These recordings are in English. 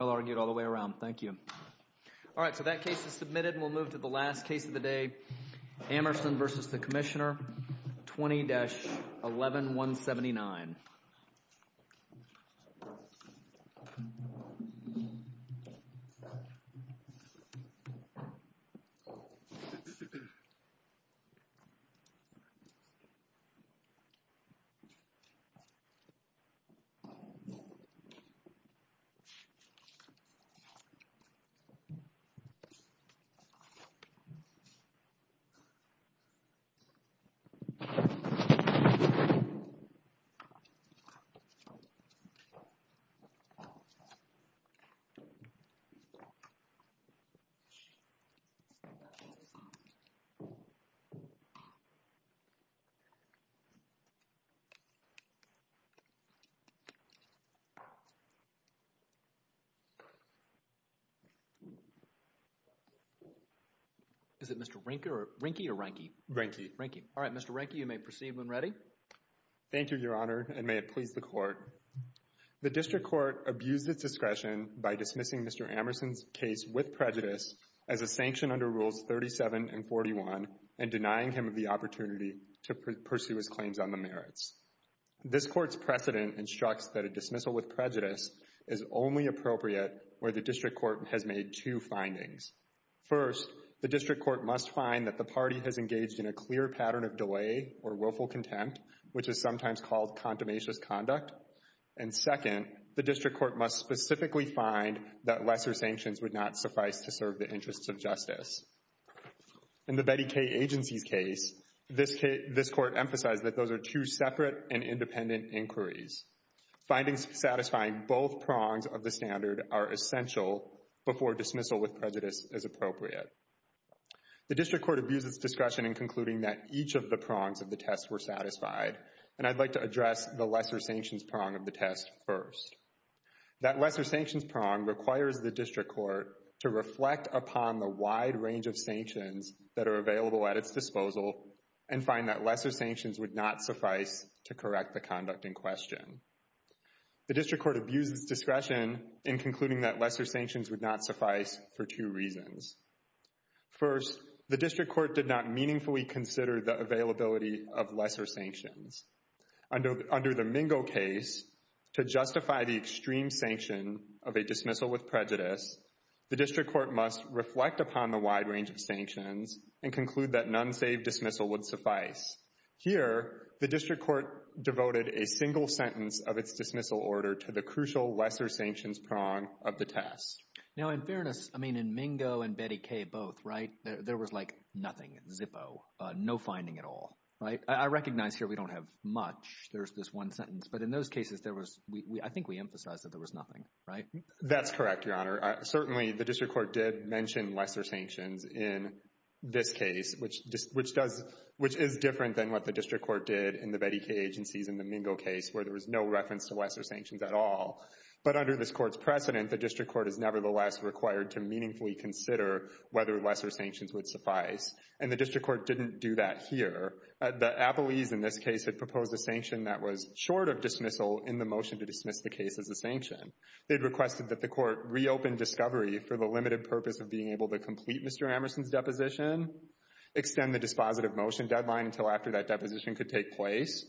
I'll argue it all the way around. Thank you. Alright, so that case is submitted and we'll move to the last case of the day. Amerson v. Commissioner, 20-11179 Amerson v. Commissioner, 20-11179 Is it Mr. Ranky. Mr. Ranky is up next. Thank you, His Honor, and may it please the Court. The district court abused its discretion by dismissing Mr. Amerson's case with prejudice as a sanction under Rules 37 and 41 and denying him of the opportunity to pursue his claims on the merits. This Court's precedent instructs that a dismissal with prejudice is only appropriate where the district court has made two findings. First, the district court must find that the party has engaged in a clear pattern of delay or willful contempt, which is sometimes called contumacious conduct. And second, the district court must specifically find that lesser sanctions would not suffice to serve the interests of justice. In the Betty Kay Agency's case, this Court emphasized that those are two separate and independent inquiries. Findings satisfying both prongs of the standard are essential before dismissal with prejudice is appropriate. The district court abused its discretion in concluding that each of the prongs of the test were satisfied, and I'd like to address the lesser sanctions prong of the test first. That lesser sanctions prong requires the district court to reflect upon the wide range of sanctions that are available at its disposal and find that lesser sanctions would not suffice to correct the conduct in question. The district court abused its discretion in concluding that lesser sanctions would not suffice for two reasons. First, the district court did not meaningfully consider the availability of lesser sanctions. Under the Mingo case, to justify the extreme sanction of a dismissal with prejudice, the district court must reflect upon the wide range of sanctions and conclude that an unsaved dismissal would suffice. Here, the district court devoted a single sentence of its dismissal order to the crucial lesser sanctions prong of the test. Now, in fairness, I mean, in Mingo and Betty Kay both, right, there was like nothing, zippo, no finding at all, right? I recognize here we don't have much. There's this one sentence, but in those cases, I think we emphasized that there was nothing, right? That's correct, Your Honor. Certainly, the district court did mention lesser sanctions in this case, which is different than what the district court did in the Betty Kay agencies in the Mingo case where there was no reference to lesser sanctions at all, but under this court's precedent, the district court is nevertheless required to meaningfully consider whether lesser sanctions would suffice, and the district court didn't do that here. The Appellees in this case had proposed a sanction that was short of dismissal in the motion to dismiss the case as a sanction. They had requested that the court reopen discovery for the limited purpose of being able to complete Mr. Amerson's deposition, extend the dispositive motion deadline until after that deposition could take place,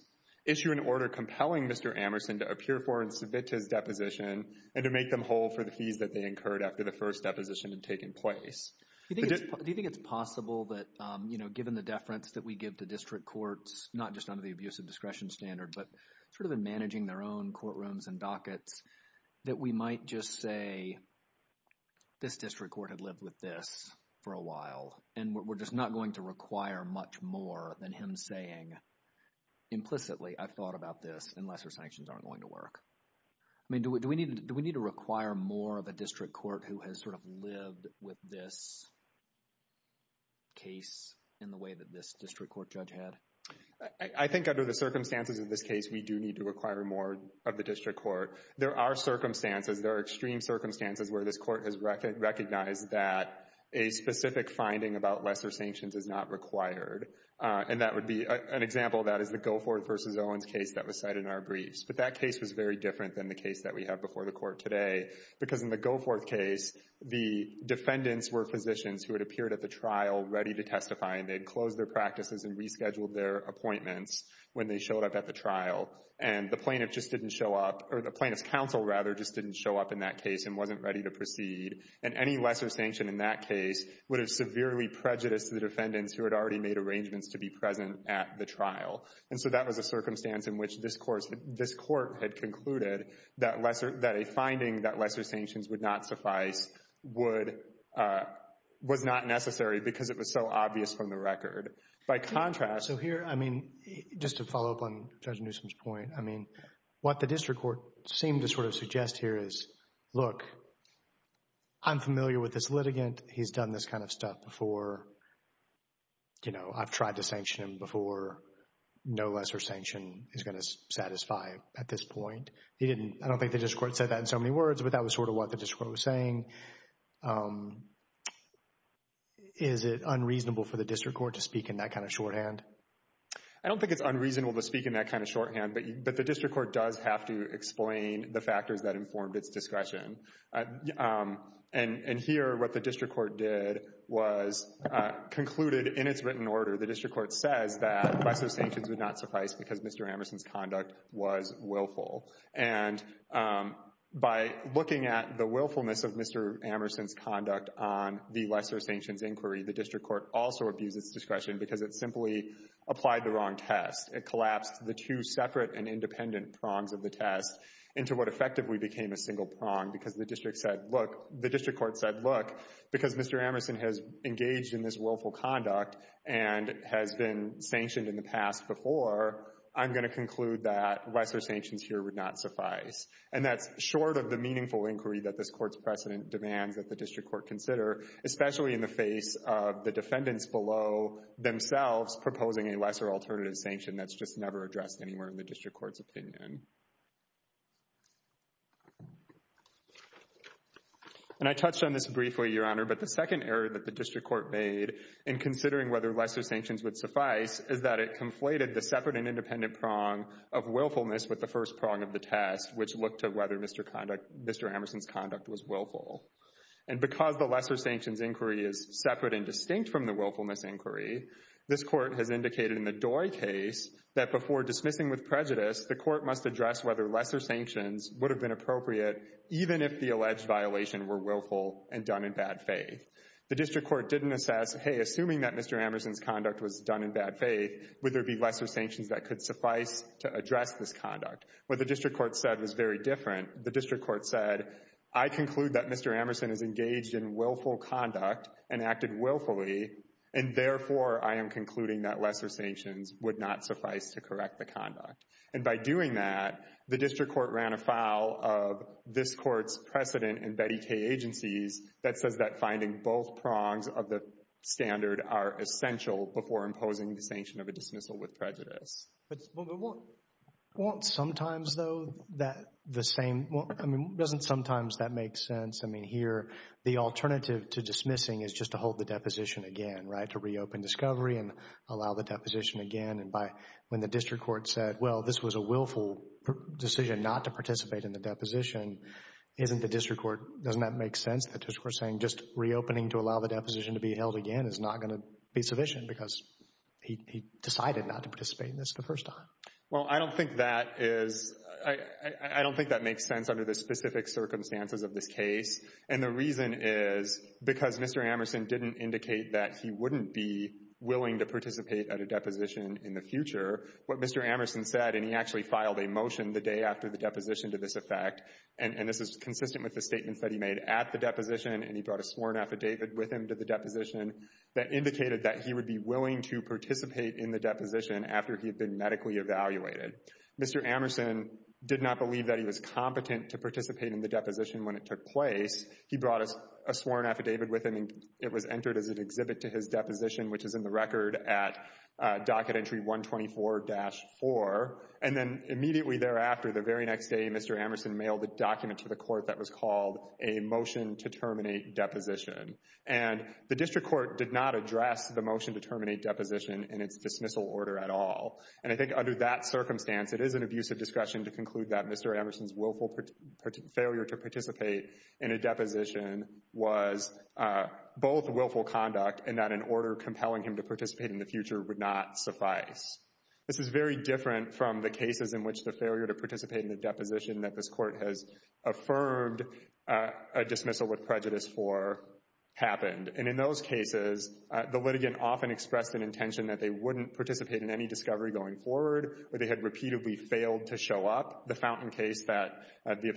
issue an order compelling Mr. Amerson to appear for and submit to his deposition, and to make them whole for the fees that they incurred after the first deposition had taken place. Do you think it's possible that, you know, given the deference that we give to district courts, not just under the abuse of discretion standard, but sort of in managing their own courtrooms and dockets, that we might just say this district court had lived with this for a while, and we're just not going to require much more than him saying implicitly, I've thought about this, and lesser sanctions aren't going to work? I mean, do we need to require more of a district court who has sort of lived with this case in the way that this district court judge had? I think under the circumstances of this case, we do need to require more of the district court. There are circumstances, there are extreme circumstances where this court has recognized that a specific finding about lesser sanctions is not required, and that would be an example of that is the Gofford v. Owens case that was cited in our briefs. But that case was very different than the case that we have before the court today, because in the Gofford case, the defendants were physicians who had appeared at the trial ready to testify, and they had closed their practices and rescheduled their appointments when they showed up at the trial. And the plaintiff just didn't show up, or the plaintiff's counsel, rather, just didn't show up in that case and wasn't ready to proceed. And any lesser sanction in that case would have severely prejudiced the defendants And so that was a circumstance in which this court had concluded that a finding that lesser sanctions would not suffice was not necessary because it was so obvious from the record. By contrast— So here, I mean, just to follow up on Judge Newsom's point, I mean, what the district court seemed to sort of suggest here is, look, I'm familiar with this litigant. He's done this kind of stuff before. You know, I've tried to sanction him before. No lesser sanction is going to satisfy at this point. I don't think the district court said that in so many words, but that was sort of what the district court was saying. Is it unreasonable for the district court to speak in that kind of shorthand? I don't think it's unreasonable to speak in that kind of shorthand, but the district court does have to explain the factors that informed its discretion. And here what the district court did was concluded in its written order. The district court says that lesser sanctions would not suffice because Mr. Amerson's conduct was willful. And by looking at the willfulness of Mr. Amerson's conduct on the lesser sanctions inquiry, the district court also abused its discretion because it simply applied the wrong test. It collapsed the two separate and independent prongs of the test into what effectively became a single prong because the district court said, look, because Mr. Amerson has engaged in this willful conduct and has been sanctioned in the past before, I'm going to conclude that lesser sanctions here would not suffice. And that's short of the meaningful inquiry that this court's precedent demands that the district court consider, especially in the face of the defendants below themselves proposing a lesser alternative sanction that's just never addressed anywhere in the district court's opinion. And I touched on this briefly, Your Honor, but the second error that the district court made in considering whether lesser sanctions would suffice is that it conflated the separate and independent prong of willfulness with the first prong of the test, which looked at whether Mr. Amerson's conduct was willful. And because the lesser sanctions inquiry is separate and distinct from the willfulness inquiry, this court has indicated in the Doi case that before dismissing with prejudice, the court must address whether lesser sanctions would have been appropriate even if the alleged violation were willful and done in bad faith. The district court didn't assess, hey, assuming that Mr. Amerson's conduct was done in bad faith, would there be lesser sanctions that could suffice to address this conduct? What the district court said was very different. The district court said, I conclude that Mr. Amerson is engaged in willful conduct and acted willfully and, therefore, I am concluding that lesser sanctions would not suffice to correct the conduct. And by doing that, the district court ran afoul of this court's precedent in Betty K. Agencies that says that finding both prongs of the standard are essential before imposing the sanction of a dismissal with prejudice. But won't sometimes, though, that the same—I mean, doesn't sometimes that make sense? I mean, here the alternative to dismissing is just to hold the deposition again, right, to reopen discovery and allow the deposition again. And when the district court said, well, this was a willful decision not to participate in the deposition, isn't the district court—doesn't that make sense? The district court is saying just reopening to allow the deposition to be held again is not going to be sufficient because he decided not to participate in this the first time. Well, I don't think that is—I don't think that makes sense under the specific circumstances of this case. And the reason is because Mr. Amerson didn't indicate that he wouldn't be willing to participate at a deposition in the future. What Mr. Amerson said—and he actually filed a motion the day after the deposition to this effect, and this is consistent with the statements that he made at the deposition and he brought a sworn affidavit with him to the deposition that indicated that he would be willing to participate in the deposition after he had been medically evaluated. Mr. Amerson did not believe that he was competent to participate in the deposition when it took place. He brought a sworn affidavit with him, and it was entered as an exhibit to his deposition, which is in the record at docket entry 124-4. And then immediately thereafter, the very next day, Mr. Amerson mailed a document to the court that was called a motion to terminate deposition. And the district court did not address the motion to terminate deposition in its dismissal order at all. And I think under that circumstance, it is an abusive discretion to conclude that Mr. Amerson's willful failure to participate in a deposition was both willful conduct and that an order compelling him to participate in the future would not suffice. This is very different from the cases in which the failure to participate in a deposition that this court has affirmed a dismissal with prejudice for happened. And in those cases, the litigant often expressed an intention that they wouldn't participate in any discovery going forward or they had repeatedly failed to show up. The Fountain case that the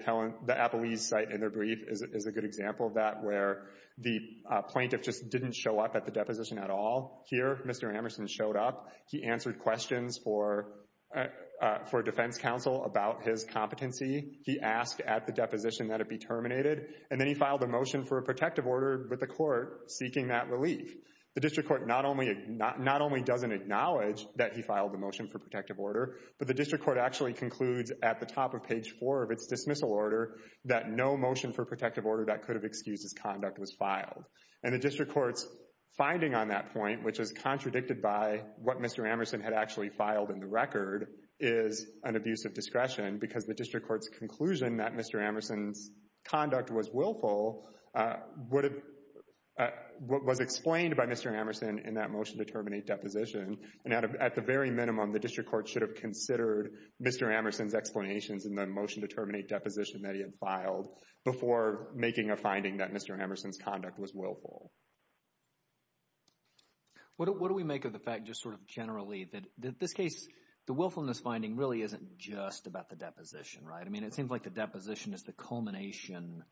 appellees cite in their brief is a good example of that where the plaintiff just didn't show up at the deposition at all. Here, Mr. Amerson showed up. He answered questions for defense counsel about his competency. He asked at the deposition that it be terminated. And then he filed a motion for a protective order with the court seeking that relief. The district court not only doesn't acknowledge that he filed the motion for protective order, but the district court actually concludes at the top of page 4 of its dismissal order that no motion for protective order that could have excused his conduct was filed. And the district court's finding on that point, which is contradicted by what Mr. Amerson had actually filed in the record, is an abuse of discretion because the district court's conclusion that Mr. Amerson's conduct was willful was explained by Mr. Amerson in that motion to terminate deposition. And at the very minimum, the district court should have considered Mr. Amerson's explanations in the motion to terminate deposition that he had filed before making a finding that Mr. Amerson's conduct was willful. What do we make of the fact just sort of generally that this case, the willfulness finding really isn't just about the deposition, right? I mean, it seems like the deposition is the culmination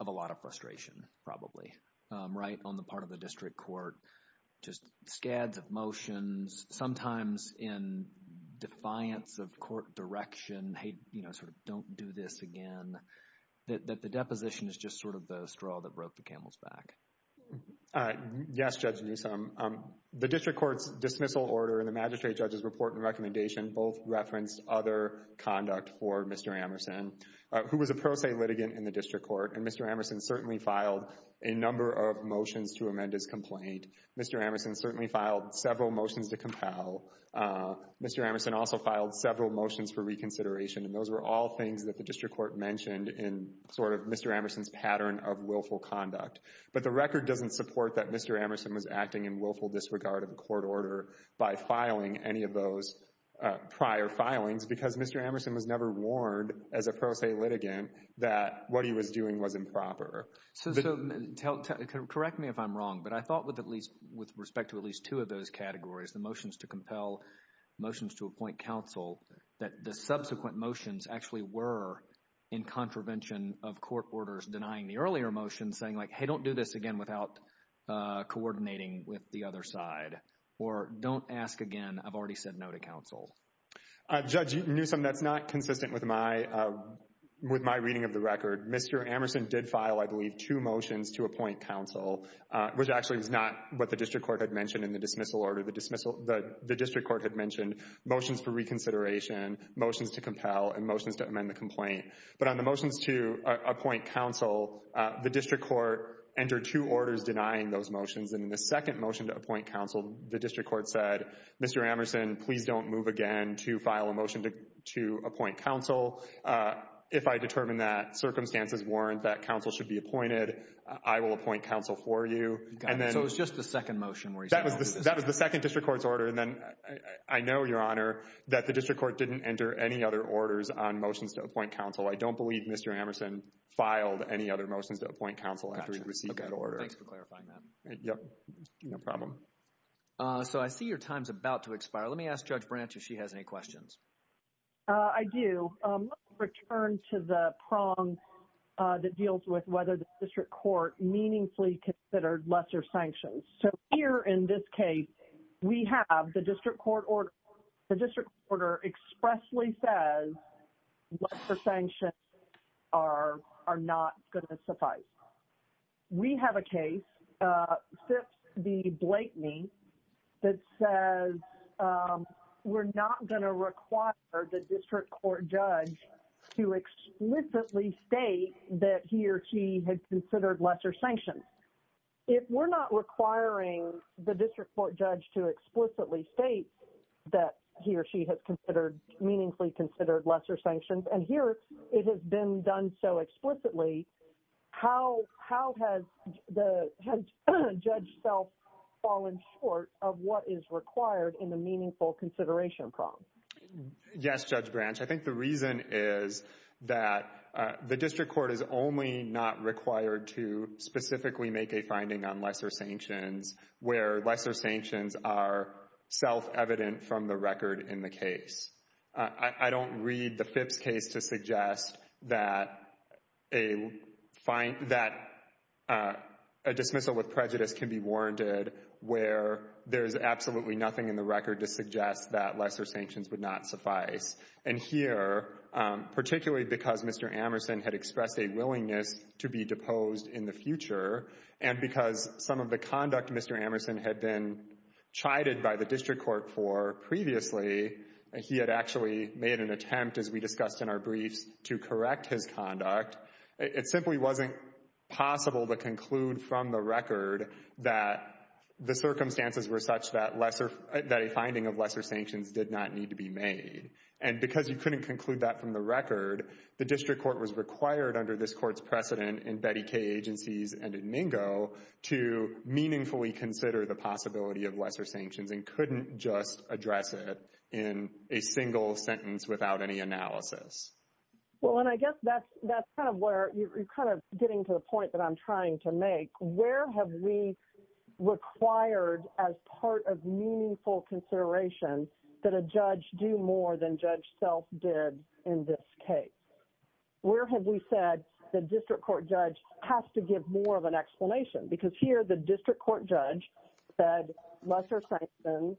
of a lot of frustration, probably, right, on the part of the district court, just scads of motions, sometimes in defiance of court direction, hey, you know, sort of don't do this again, that the deposition is just sort of the straw that broke the camel's back. Yes, Judge Newsom. The district court's dismissal order and the magistrate judge's report and recommendation both referenced other conduct for Mr. Amerson, who was a pro se litigant in the district court, and Mr. Amerson certainly filed a number of motions to amend his complaint. Mr. Amerson certainly filed several motions to compel. Mr. Amerson also filed several motions for reconsideration, and those were all things that the district court mentioned in sort of Mr. Amerson's pattern of willful conduct. But the record doesn't support that Mr. Amerson was acting in willful disregard of the court order by filing any of those prior filings because Mr. Amerson was never warned as a pro se litigant that what he was doing was improper. So correct me if I'm wrong, but I thought with respect to at least two of those categories, the motions to compel, motions to appoint counsel, that the subsequent motions actually were in contravention of court orders denying the earlier motions, saying like, hey, don't do this again without coordinating with the other side, or don't ask again, I've already said no to counsel. Judge Newsom, that's not consistent with my reading of the record. Mr. Amerson did file, I believe, two motions to appoint counsel, which actually is not what the district court had mentioned in the dismissal order. The district court had mentioned motions for reconsideration, motions to compel, and motions to amend the complaint. But on the motions to appoint counsel, the district court entered two orders denying those motions, and in the second motion to appoint counsel, the district court said, Mr. Amerson, please don't move again to file a motion to appoint counsel. If I determine that circumstances warrant that counsel should be appointed, I will appoint counsel for you. So it was just the second motion where he said no to counsel. That was the second district court's order. And then I know, Your Honor, that the district court didn't enter any other orders on motions to appoint counsel. I don't believe Mr. Amerson filed any other motions to appoint counsel after he received that order. Thanks for clarifying that. No problem. So I see your time is about to expire. Let me ask Judge Branch if she has any questions. I do. Let's return to the prong that deals with whether the district court meaningfully considered lesser sanctions. So here in this case, we have the district court order. The district court order expressly says lesser sanctions are not going to suffice. We have a case, Fifth v. Blakeney, that says we're not going to require the district court judge to explicitly state that he or she had considered lesser sanctions. If we're not requiring the district court judge to explicitly state that he or she has considered, meaningfully considered lesser sanctions, and here it has been done so explicitly, how has Judge Self fallen short of what is required in the meaningful consideration prong? Yes, Judge Branch. I think the reason is that the district court is only not required to specifically make a finding on lesser sanctions where lesser sanctions are self-evident from the record in the case. I don't read the Phipps case to suggest that a dismissal with prejudice can be warranted where there is absolutely nothing in the record to suggest that lesser sanctions would not suffice. And here, particularly because Mr. Amerson had expressed a willingness to be deposed in the future, and because some of the conduct Mr. Amerson had been chided by the district court for previously, he had actually made an attempt, as we discussed in our briefs, to correct his conduct. It simply wasn't possible to conclude from the record that the circumstances were such that a finding of lesser sanctions did not need to be made. And because you couldn't conclude that from the record, the district court was required under this court's precedent in Betty Kaye Agencies and in Mingo to meaningfully consider the possibility of lesser sanctions and couldn't just address it in a single sentence without any analysis. Well, and I guess that's kind of where you're kind of getting to the point that I'm trying to make. Where have we required as part of meaningful consideration that a judge do more than judge self did in this case? Where have we said the district court judge has to give more of an explanation? Because here, the district court judge said lesser sanctions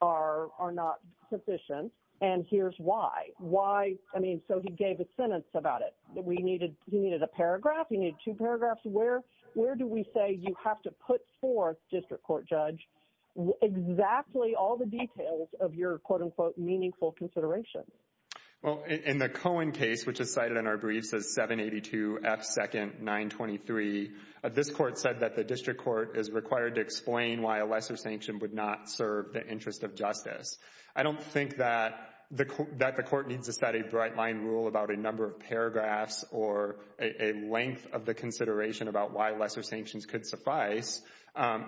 are not sufficient. And here's why. Why? I mean, so he gave a sentence about it. He needed a paragraph. He needed two paragraphs. Where do we say you have to put forth, district court judge, exactly all the details of your, quote, unquote, meaningful consideration? Well, in the Cohen case, which is cited in our briefs as 782F2nd923, this court said that the district court is required to explain why a lesser sanction would not serve the interest of justice. I don't think that the court needs to set a bright-line rule about a number of paragraphs or a length of the consideration about why lesser sanctions could suffice.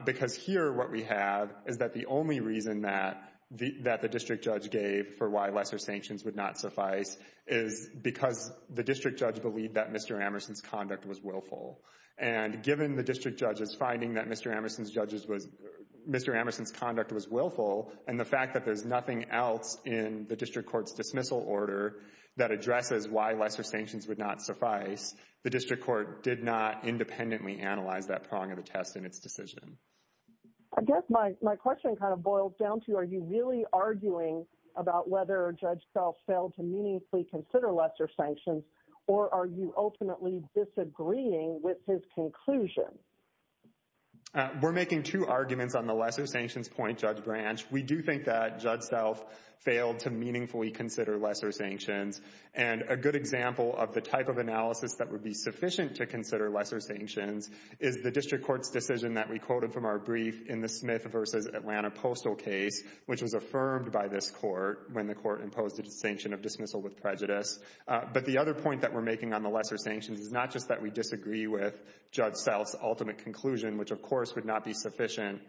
Because here, what we have is that the only reason that the district judge gave for why lesser sanctions would not suffice is because the district judge believed that Mr. Amerson's conduct was willful. And given the district judge's finding that Mr. Amerson's conduct was willful and the fact that there's nothing else in the district court's dismissal order that addresses why lesser sanctions would not suffice, the district court did not independently analyze that prong of the test in its decision. I guess my question kind of boils down to, are you really arguing about whether Judge Self failed to meaningfully consider lesser sanctions, or are you ultimately disagreeing with his conclusion? We're making two arguments on the lesser sanctions point, Judge Branch. We do think that Judge Self failed to meaningfully consider lesser sanctions. And a good example of the type of analysis that would be sufficient to consider lesser sanctions is the district court's decision that we quoted from our brief in the Smith v. Atlanta postal case, which was affirmed by this court when the court imposed a sanction of dismissal with prejudice. But the other point that we're making on the lesser sanctions is not just that we disagree with Judge Self's ultimate conclusion, which of course would not be sufficient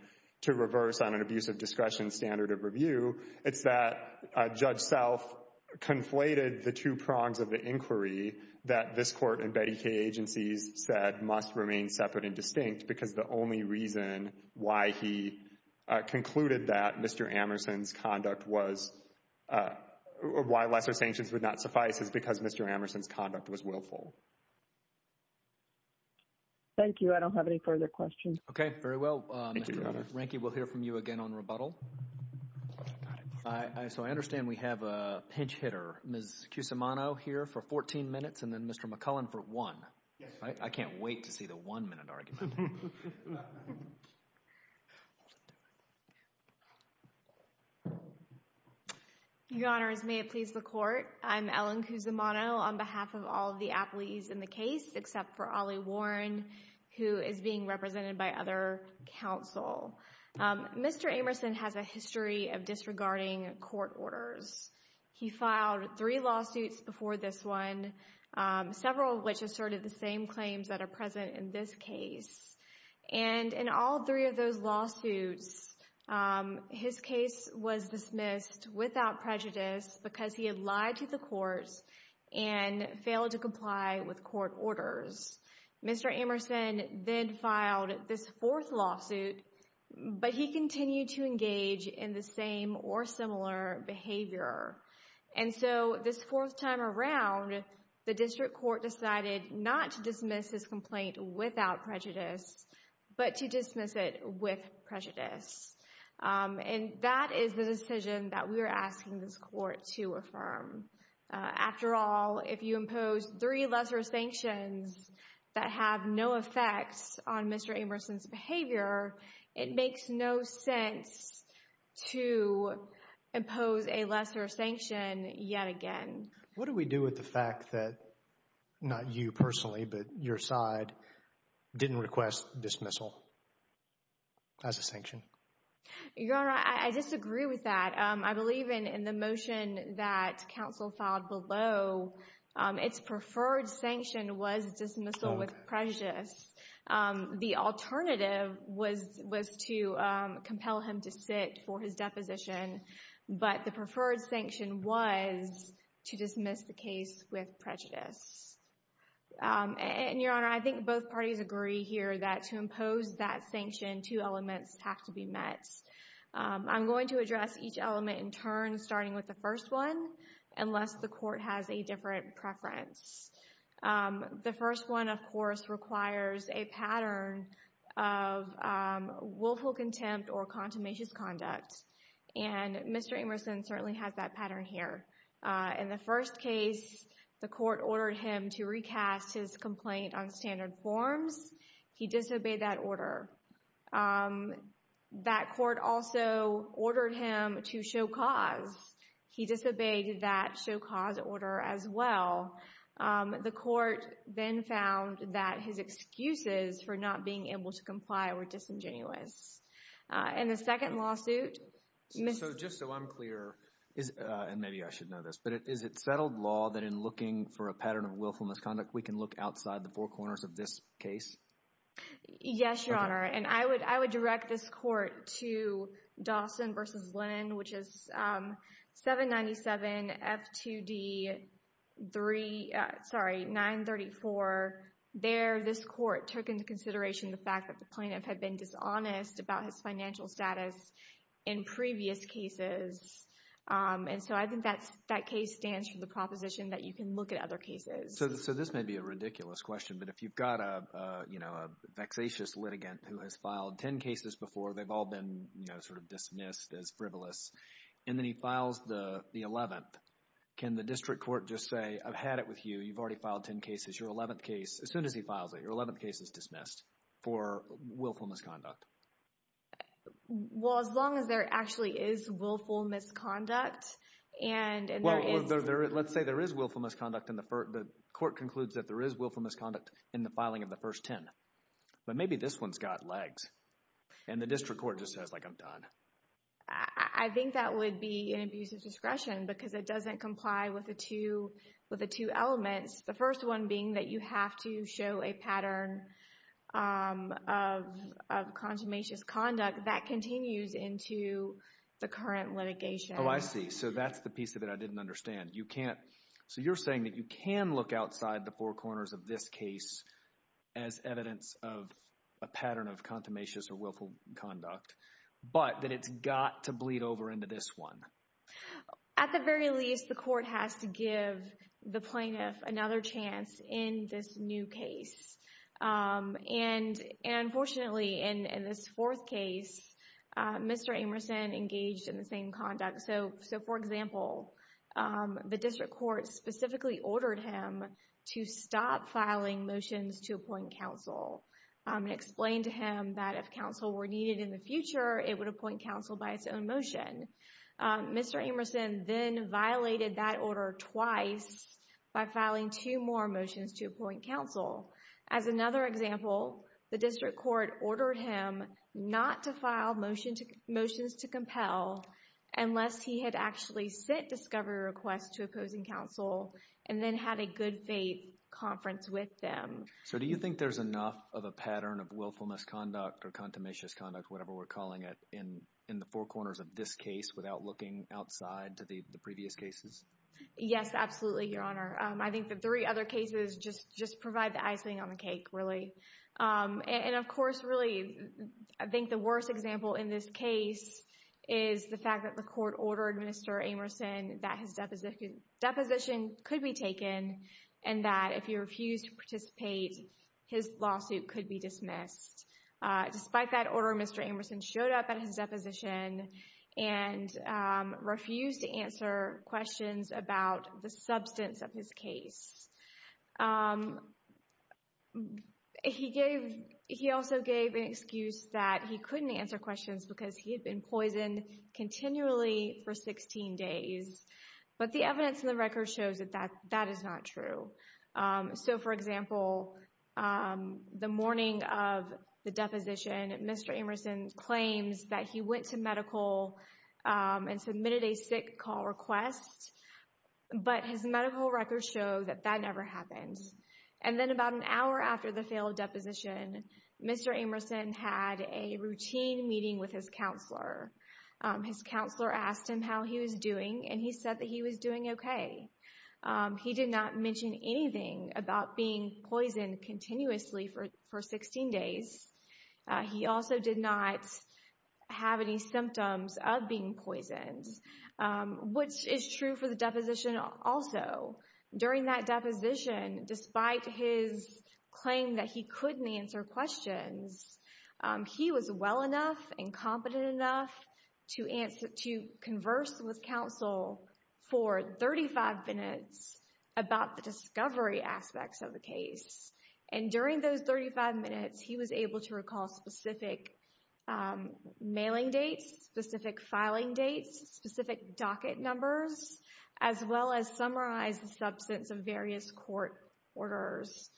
to reverse on an abuse of discretion standard of review. It's that Judge Self conflated the two prongs of the inquiry that this court and Betty Kay agencies said must remain separate and distinct because the only reason why he concluded that Mr. Amerson's conduct was, or why lesser sanctions would not suffice is because Mr. Amerson's conduct was willful. Thank you. I don't have any further questions. Okay. Very well. Mr. Ranky, we'll hear from you again on rebuttal. So I understand we have a pinch hitter, Ms. Cusimano here for 14 minutes and then Mr. McCullen for one. I can't wait to see the one minute argument. Your Honors, may it please the court. I'm Ellen Cusimano on behalf of all of the appellees in the case except for Ollie Warren, who is being represented by other counsel. Mr. Amerson has a history of disregarding court orders. He filed three lawsuits before this one, several of which asserted the same claims that are present in this case. And in all three of those lawsuits, his case was dismissed without prejudice because he had lied to the courts and failed to comply with court orders. Mr. Amerson then filed this fourth lawsuit, but he continued to engage in the same or similar behavior. And so this fourth time around, the district court decided not to dismiss his complaint without prejudice, but to dismiss it with prejudice. And that is the decision that we are asking this court to affirm. After all, if you impose three lesser sanctions that have no effects on Mr. Amerson's behavior, it makes no sense to impose a lesser sanction yet again. What do we do with the fact that not you personally, but your side didn't request dismissal as a sanction? Your Honor, I disagree with that. I believe in the motion that counsel filed below, its preferred sanction was dismissal with prejudice. The alternative was to compel him to sit for his deposition, but the preferred sanction was to dismiss the case with prejudice. And, Your Honor, I think both parties agree here that to impose that sanction, two elements have to be met. I'm going to address each element in turn, starting with the first one, unless the court has a different preference. The first one, of course, requires a pattern of willful contempt or contumacious conduct, and Mr. Amerson certainly has that pattern here. In the first case, the court ordered him to recast his complaint on standard forms. He disobeyed that order. That court also ordered him to show cause. He disobeyed that show cause order as well. The court then found that his excuses for not being able to comply were disingenuous. In the second lawsuit— So just so I'm clear, and maybe I should know this, but is it settled law that in looking for a pattern of willful misconduct, we can look outside the four corners of this case? Yes, Your Honor, and I would direct this court to Dawson v. Linnan, which is 797 F2D 3—sorry, 934. There, this court took into consideration the fact that the plaintiff had been dishonest about his financial status in previous cases, and so I think that case stands for the proposition that you can look at other cases. So this may be a ridiculous question, but if you've got a vexatious litigant who has filed 10 cases before, they've all been sort of dismissed as frivolous, and then he files the 11th, can the district court just say, I've had it with you. You've already filed 10 cases. Your 11th case—as soon as he files it, your 11th case is dismissed for willful misconduct. Well, as long as there actually is willful misconduct, and there is— Well, let's say there is willful misconduct in the first—the court concludes that there is willful misconduct in the filing of the first 10. But maybe this one's got legs, and the district court just says, like, I'm done. I think that would be an abuse of discretion because it doesn't comply with the two elements, the first one being that you have to show a pattern of consummationist conduct that continues into the current litigation. Oh, I see. So that's the piece of it I didn't understand. You can't—so you're saying that you can look outside the four corners of this case as evidence of a pattern of consummationist or willful conduct, but that it's got to bleed over into this one. At the very least, the court has to give the plaintiff another chance in this new case. And unfortunately, in this fourth case, Mr. Amerson engaged in the same conduct. So, for example, the district court specifically ordered him to stop filing motions to appoint counsel and explained to him that if counsel were needed in the future, it would appoint counsel by its own motion. Mr. Amerson then violated that order twice by filing two more motions to appoint counsel. As another example, the district court ordered him not to file motions to compel unless he had actually sent discovery requests to opposing counsel and then had a good faith conference with them. So do you think there's enough of a pattern of willfulness conduct or consummationist conduct, whatever we're calling it, in the four corners of this case without looking outside to the previous cases? Yes, absolutely, Your Honor. I think the three other cases just provide the icing on the cake, really. And of course, really, I think the worst example in this case is the fact that the court ordered Mr. Amerson that his deposition could be taken and that if he refused to participate, his lawsuit could be dismissed. Despite that order, Mr. Amerson showed up at his deposition and refused to answer questions about the substance of his case. He also gave an excuse that he couldn't answer questions because he had been poisoned continually for 16 days. But the evidence in the record shows that that is not true. So, for example, the morning of the deposition, Mr. Amerson claims that he went to medical and submitted a sick call request. But his medical records show that that never happened. And then about an hour after the failed deposition, Mr. Amerson had a routine meeting with his counselor. His counselor asked him how he was doing, and he said that he was doing okay. He did not mention anything about being poisoned continuously for 16 days. He also did not have any symptoms of being poisoned, which is true for the deposition also. During that deposition, despite his claim that he couldn't answer questions, he was well enough and competent enough to converse with counsel for 35 minutes about the discovery aspects of the case. And during those 35 minutes, he was able to recall specific mailing dates, specific filing dates, specific docket numbers, as well as summarize the substance of various court orders.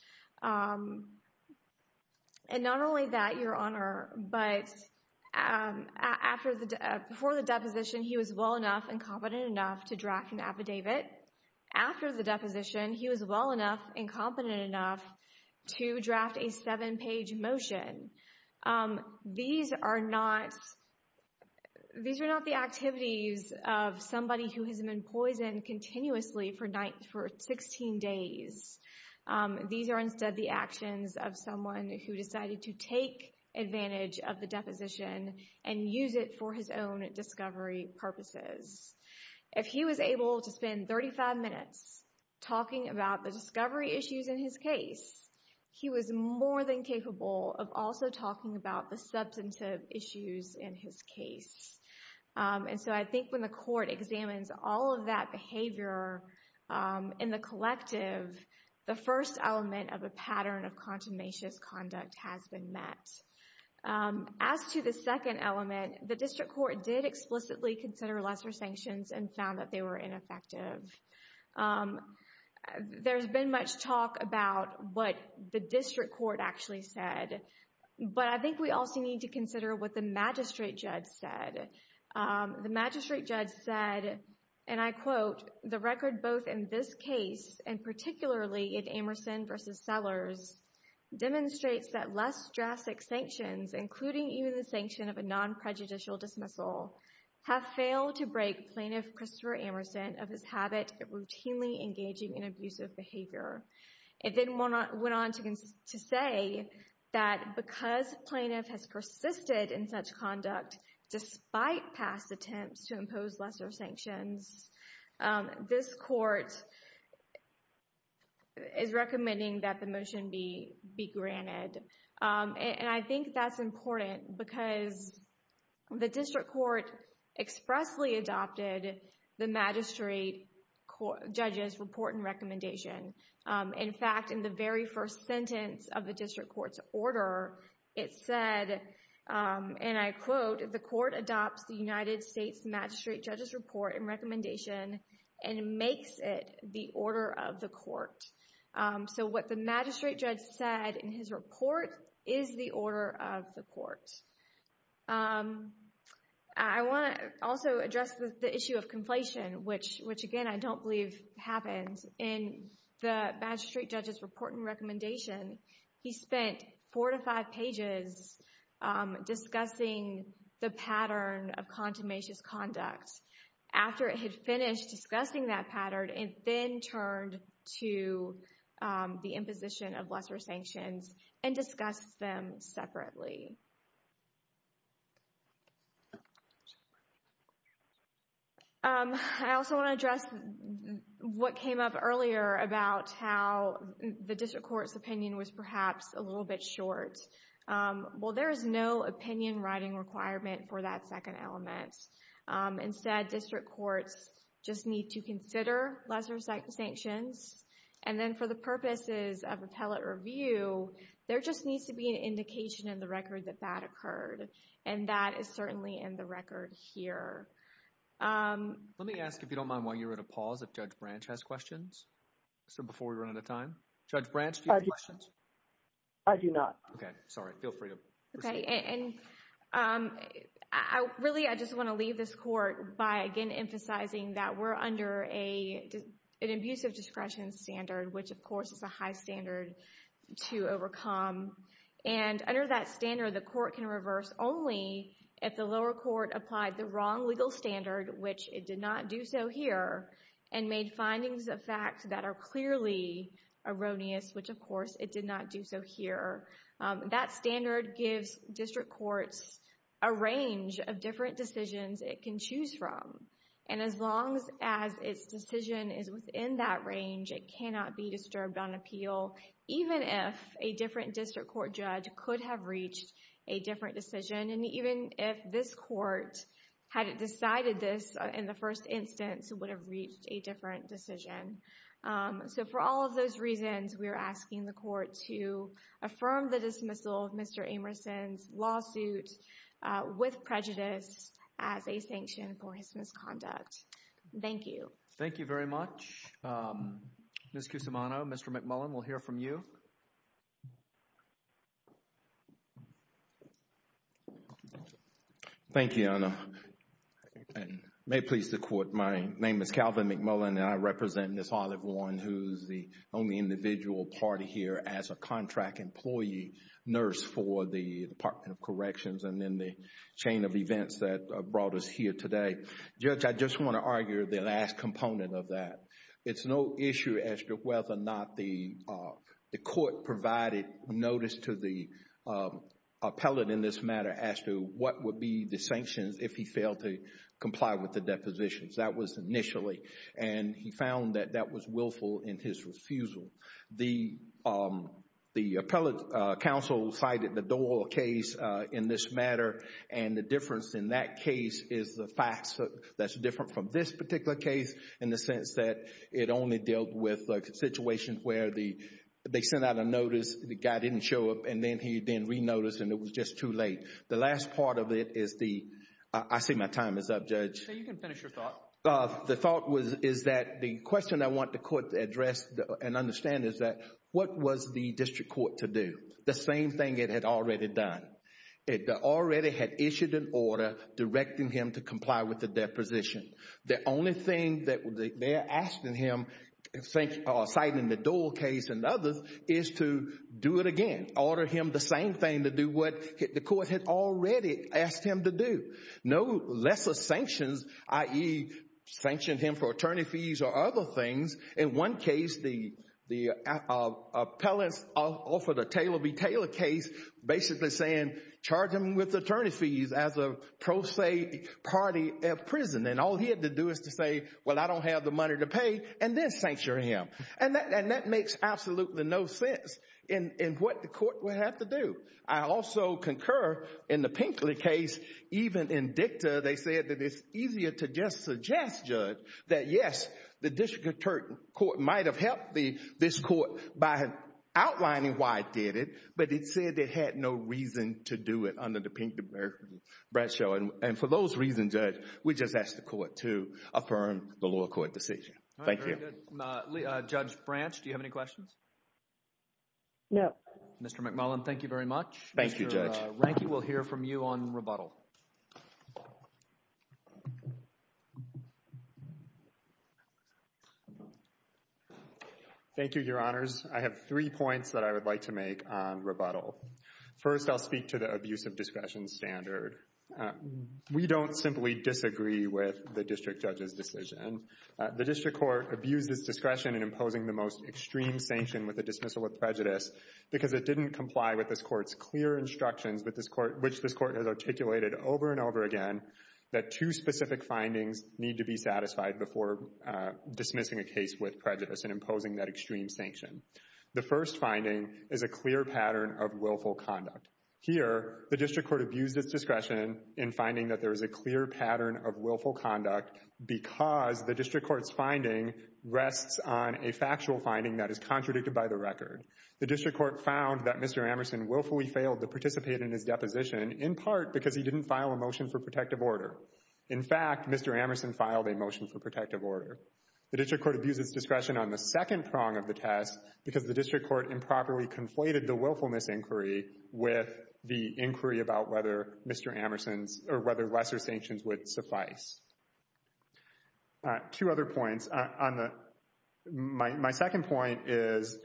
And not only that, Your Honor, but before the deposition, he was well enough and competent enough to draft an affidavit. But after the deposition, he was well enough and competent enough to draft a seven-page motion. These are not the activities of somebody who has been poisoned continuously for 16 days. These are instead the actions of someone who decided to take advantage of the deposition and use it for his own discovery purposes. If he was able to spend 35 minutes talking about the discovery issues in his case, he was more than capable of also talking about the substantive issues in his case. And so I think when the court examines all of that behavior in the collective, the first element of a pattern of contumacious conduct has been met. As to the second element, the district court did explicitly consider lesser sanctions and found that they were ineffective. There's been much talk about what the district court actually said, but I think we also need to consider what the magistrate judge said. The magistrate judge said, and I quote, The record both in this case and particularly in Amerson v. Sellers demonstrates that less drastic sanctions, including even the sanction of a non-prejudicial dismissal, have failed to break plaintiff Christopher Amerson of his habit of routinely engaging in abusive behavior. It then went on to say that because plaintiff has persisted in such conduct despite past attempts to impose lesser sanctions, this court is recommending that the motion be granted. And I think that's important because the district court expressly adopted the magistrate judge's report and recommendation. In fact, in the very first sentence of the district court's order, it said, and I quote, The court adopts the United States magistrate judge's report and recommendation and makes it the order of the court. So what the magistrate judge said in his report is the order of the court. I want to also address the issue of conflation, which again, I don't believe happens. In the magistrate judge's report and recommendation, he spent four to five pages discussing the pattern of contumacious conduct. After it had finished discussing that pattern, it then turned to the imposition of lesser sanctions and discussed them separately. I also want to address what came up earlier about how the district court's opinion was perhaps a little bit short. Well, there is no opinion writing requirement for that second element. Instead, district courts just need to consider lesser sanctions. And then for the purposes of appellate review, there just needs to be an indication in the record that that occurred. And that is certainly in the record here. Let me ask, if you don't mind, while you're at a pause, if Judge Branch has questions. So before we run out of time, Judge Branch, do you have questions? I do not. Okay. Sorry. Feel free to proceed. Really, I just want to leave this court by again emphasizing that we're under an abusive discretion standard, which of course is a high standard to overcome. And under that standard, the court can reverse only if the lower court applied the wrong legal standard, which it did not do so here, and made findings of facts that are clearly erroneous, which of course it did not do so here. That standard gives district courts a range of different decisions it can choose from. And as long as its decision is within that range, it cannot be disturbed on appeal, even if a different district court judge could have reached a different decision, and even if this court had decided this in the first instance, it would have reached a different decision. So for all of those reasons, we are asking the court to affirm the dismissal of Mr. Amerson's lawsuit with prejudice as a sanction for his misconduct. Thank you. Thank you very much. Ms. Cusimano, Mr. McMullen, we'll hear from you. Thank you, Your Honor. And may it please the Court, my name is Calvin McMullen, and I represent Ms. Olive Warren, who is the only individual party here as a contract employee nurse for the Department of Corrections and in the chain of events that brought us here today. Judge, I just want to argue the last component of that. It's no issue as to whether or not the court provided notice to the appellate in this matter as to what would be the sanctions if he failed to comply with the depositions. That was initially, and he found that that was willful in his refusal. The appellate counsel cited the Dole case in this matter, and the difference in that case is the facts that's different from this particular case in the sense that it only dealt with situations where they sent out a notice, the guy didn't show up, and then he then renoticed and it was just too late. The last part of it is the—I see my time is up, Judge. You can finish your thought. The thought is that the question I want the court to address and understand is that what was the district court to do? The same thing it had already done. It already had issued an order directing him to comply with the deposition. The only thing that they're asking him, citing the Dole case and others, is to do it again, order him the same thing to do what the court had already asked him to do. No lesser sanctions, i.e., sanction him for attorney fees or other things. In one case, the appellants offered a Taylor v. Taylor case basically saying, charge him with attorney fees as a pro se party at prison, and all he had to do is to say, well, I don't have the money to pay, and then sanction him. And that makes absolutely no sense in what the court would have to do. I also concur in the Pinkley case, even in dicta, they said that it's easier to just suggest, Judge, that yes, the district court might have helped this court by outlining why it did it, but it said it had no reason to do it under the Pinkley-Bradshaw. And for those reasons, Judge, we just ask the court to affirm the lower court decision. Thank you. Thank you. Judge Branch, do you have any questions? No. Mr. McMullen, thank you very much. Thank you, Judge. Mr. Ranke, we'll hear from you on rebuttal. Thank you, Your Honors. I have three points that I would like to make on rebuttal. First, I'll speak to the abuse of discretion standard. We don't simply disagree with the district judge's decision. The district court abused its discretion in imposing the most extreme sanction with a dismissal of prejudice because it didn't comply with this court's clear instructions, which this court has articulated over and over again, that two specific findings need to be satisfied before dismissing a case with prejudice and imposing that extreme sanction. The first finding is a clear pattern of willful conduct. Here, the district court abused its discretion in finding that there is a clear pattern of willful conduct because the district court's finding rests on a factual finding that is contradicted by the record. The district court found that Mr. Amerson willfully failed to participate in his deposition, in part because he didn't file a motion for protective order. In fact, Mr. Amerson filed a motion for protective order. The district court abused its discretion on the second prong of the test because the district court improperly conflated the willfulness inquiry with the inquiry about whether lesser sanctions would suffice. Two other points. My second point is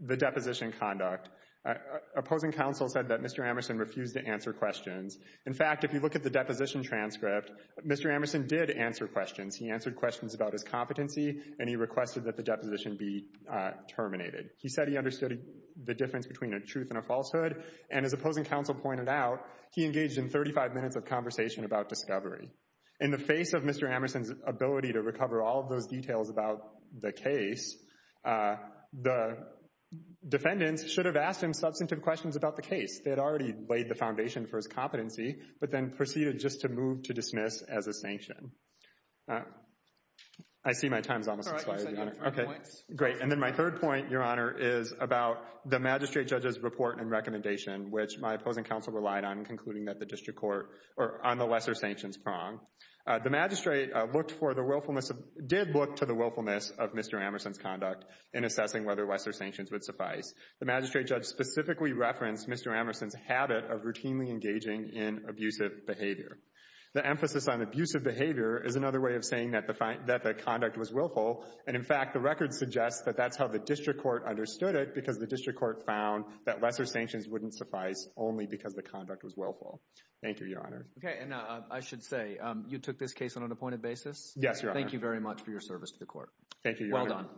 the deposition conduct. Opposing counsel said that Mr. Amerson refused to answer questions. In fact, if you look at the deposition transcript, Mr. Amerson did answer questions. He answered questions about his competency, and he requested that the deposition be terminated. He said he understood the difference between a truth and a falsehood, and as opposing counsel pointed out, he engaged in 35 minutes of conversation about discovery. In the face of Mr. Amerson's ability to recover all of those details about the case, the defendants should have asked him substantive questions about the case. They had already laid the foundation for his competency, but then proceeded just to move to dismiss as a sanction. I see my time is almost up. Great, and then my third point, Your Honor, is about the magistrate judge's report and recommendation, which my opposing counsel relied on in concluding that the district court are on the lesser sanctions prong. The magistrate did look to the willfulness of Mr. Amerson's conduct in assessing whether lesser sanctions would suffice. The magistrate judge specifically referenced Mr. Amerson's habit of routinely engaging in abusive behavior. The emphasis on abusive behavior is another way of saying that the conduct was willful, and, in fact, the record suggests that that's how the district court understood it, because the district court found that lesser sanctions wouldn't suffice only because the conduct was willful. Thank you, Your Honor. Okay, and I should say, you took this case on an appointed basis? Yes, Your Honor. Thank you very much for your service to the court. Thank you, Your Honor. Well done.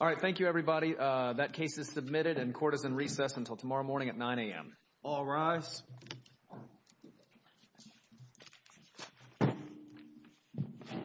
All right, thank you, everybody. All rise. Thank you.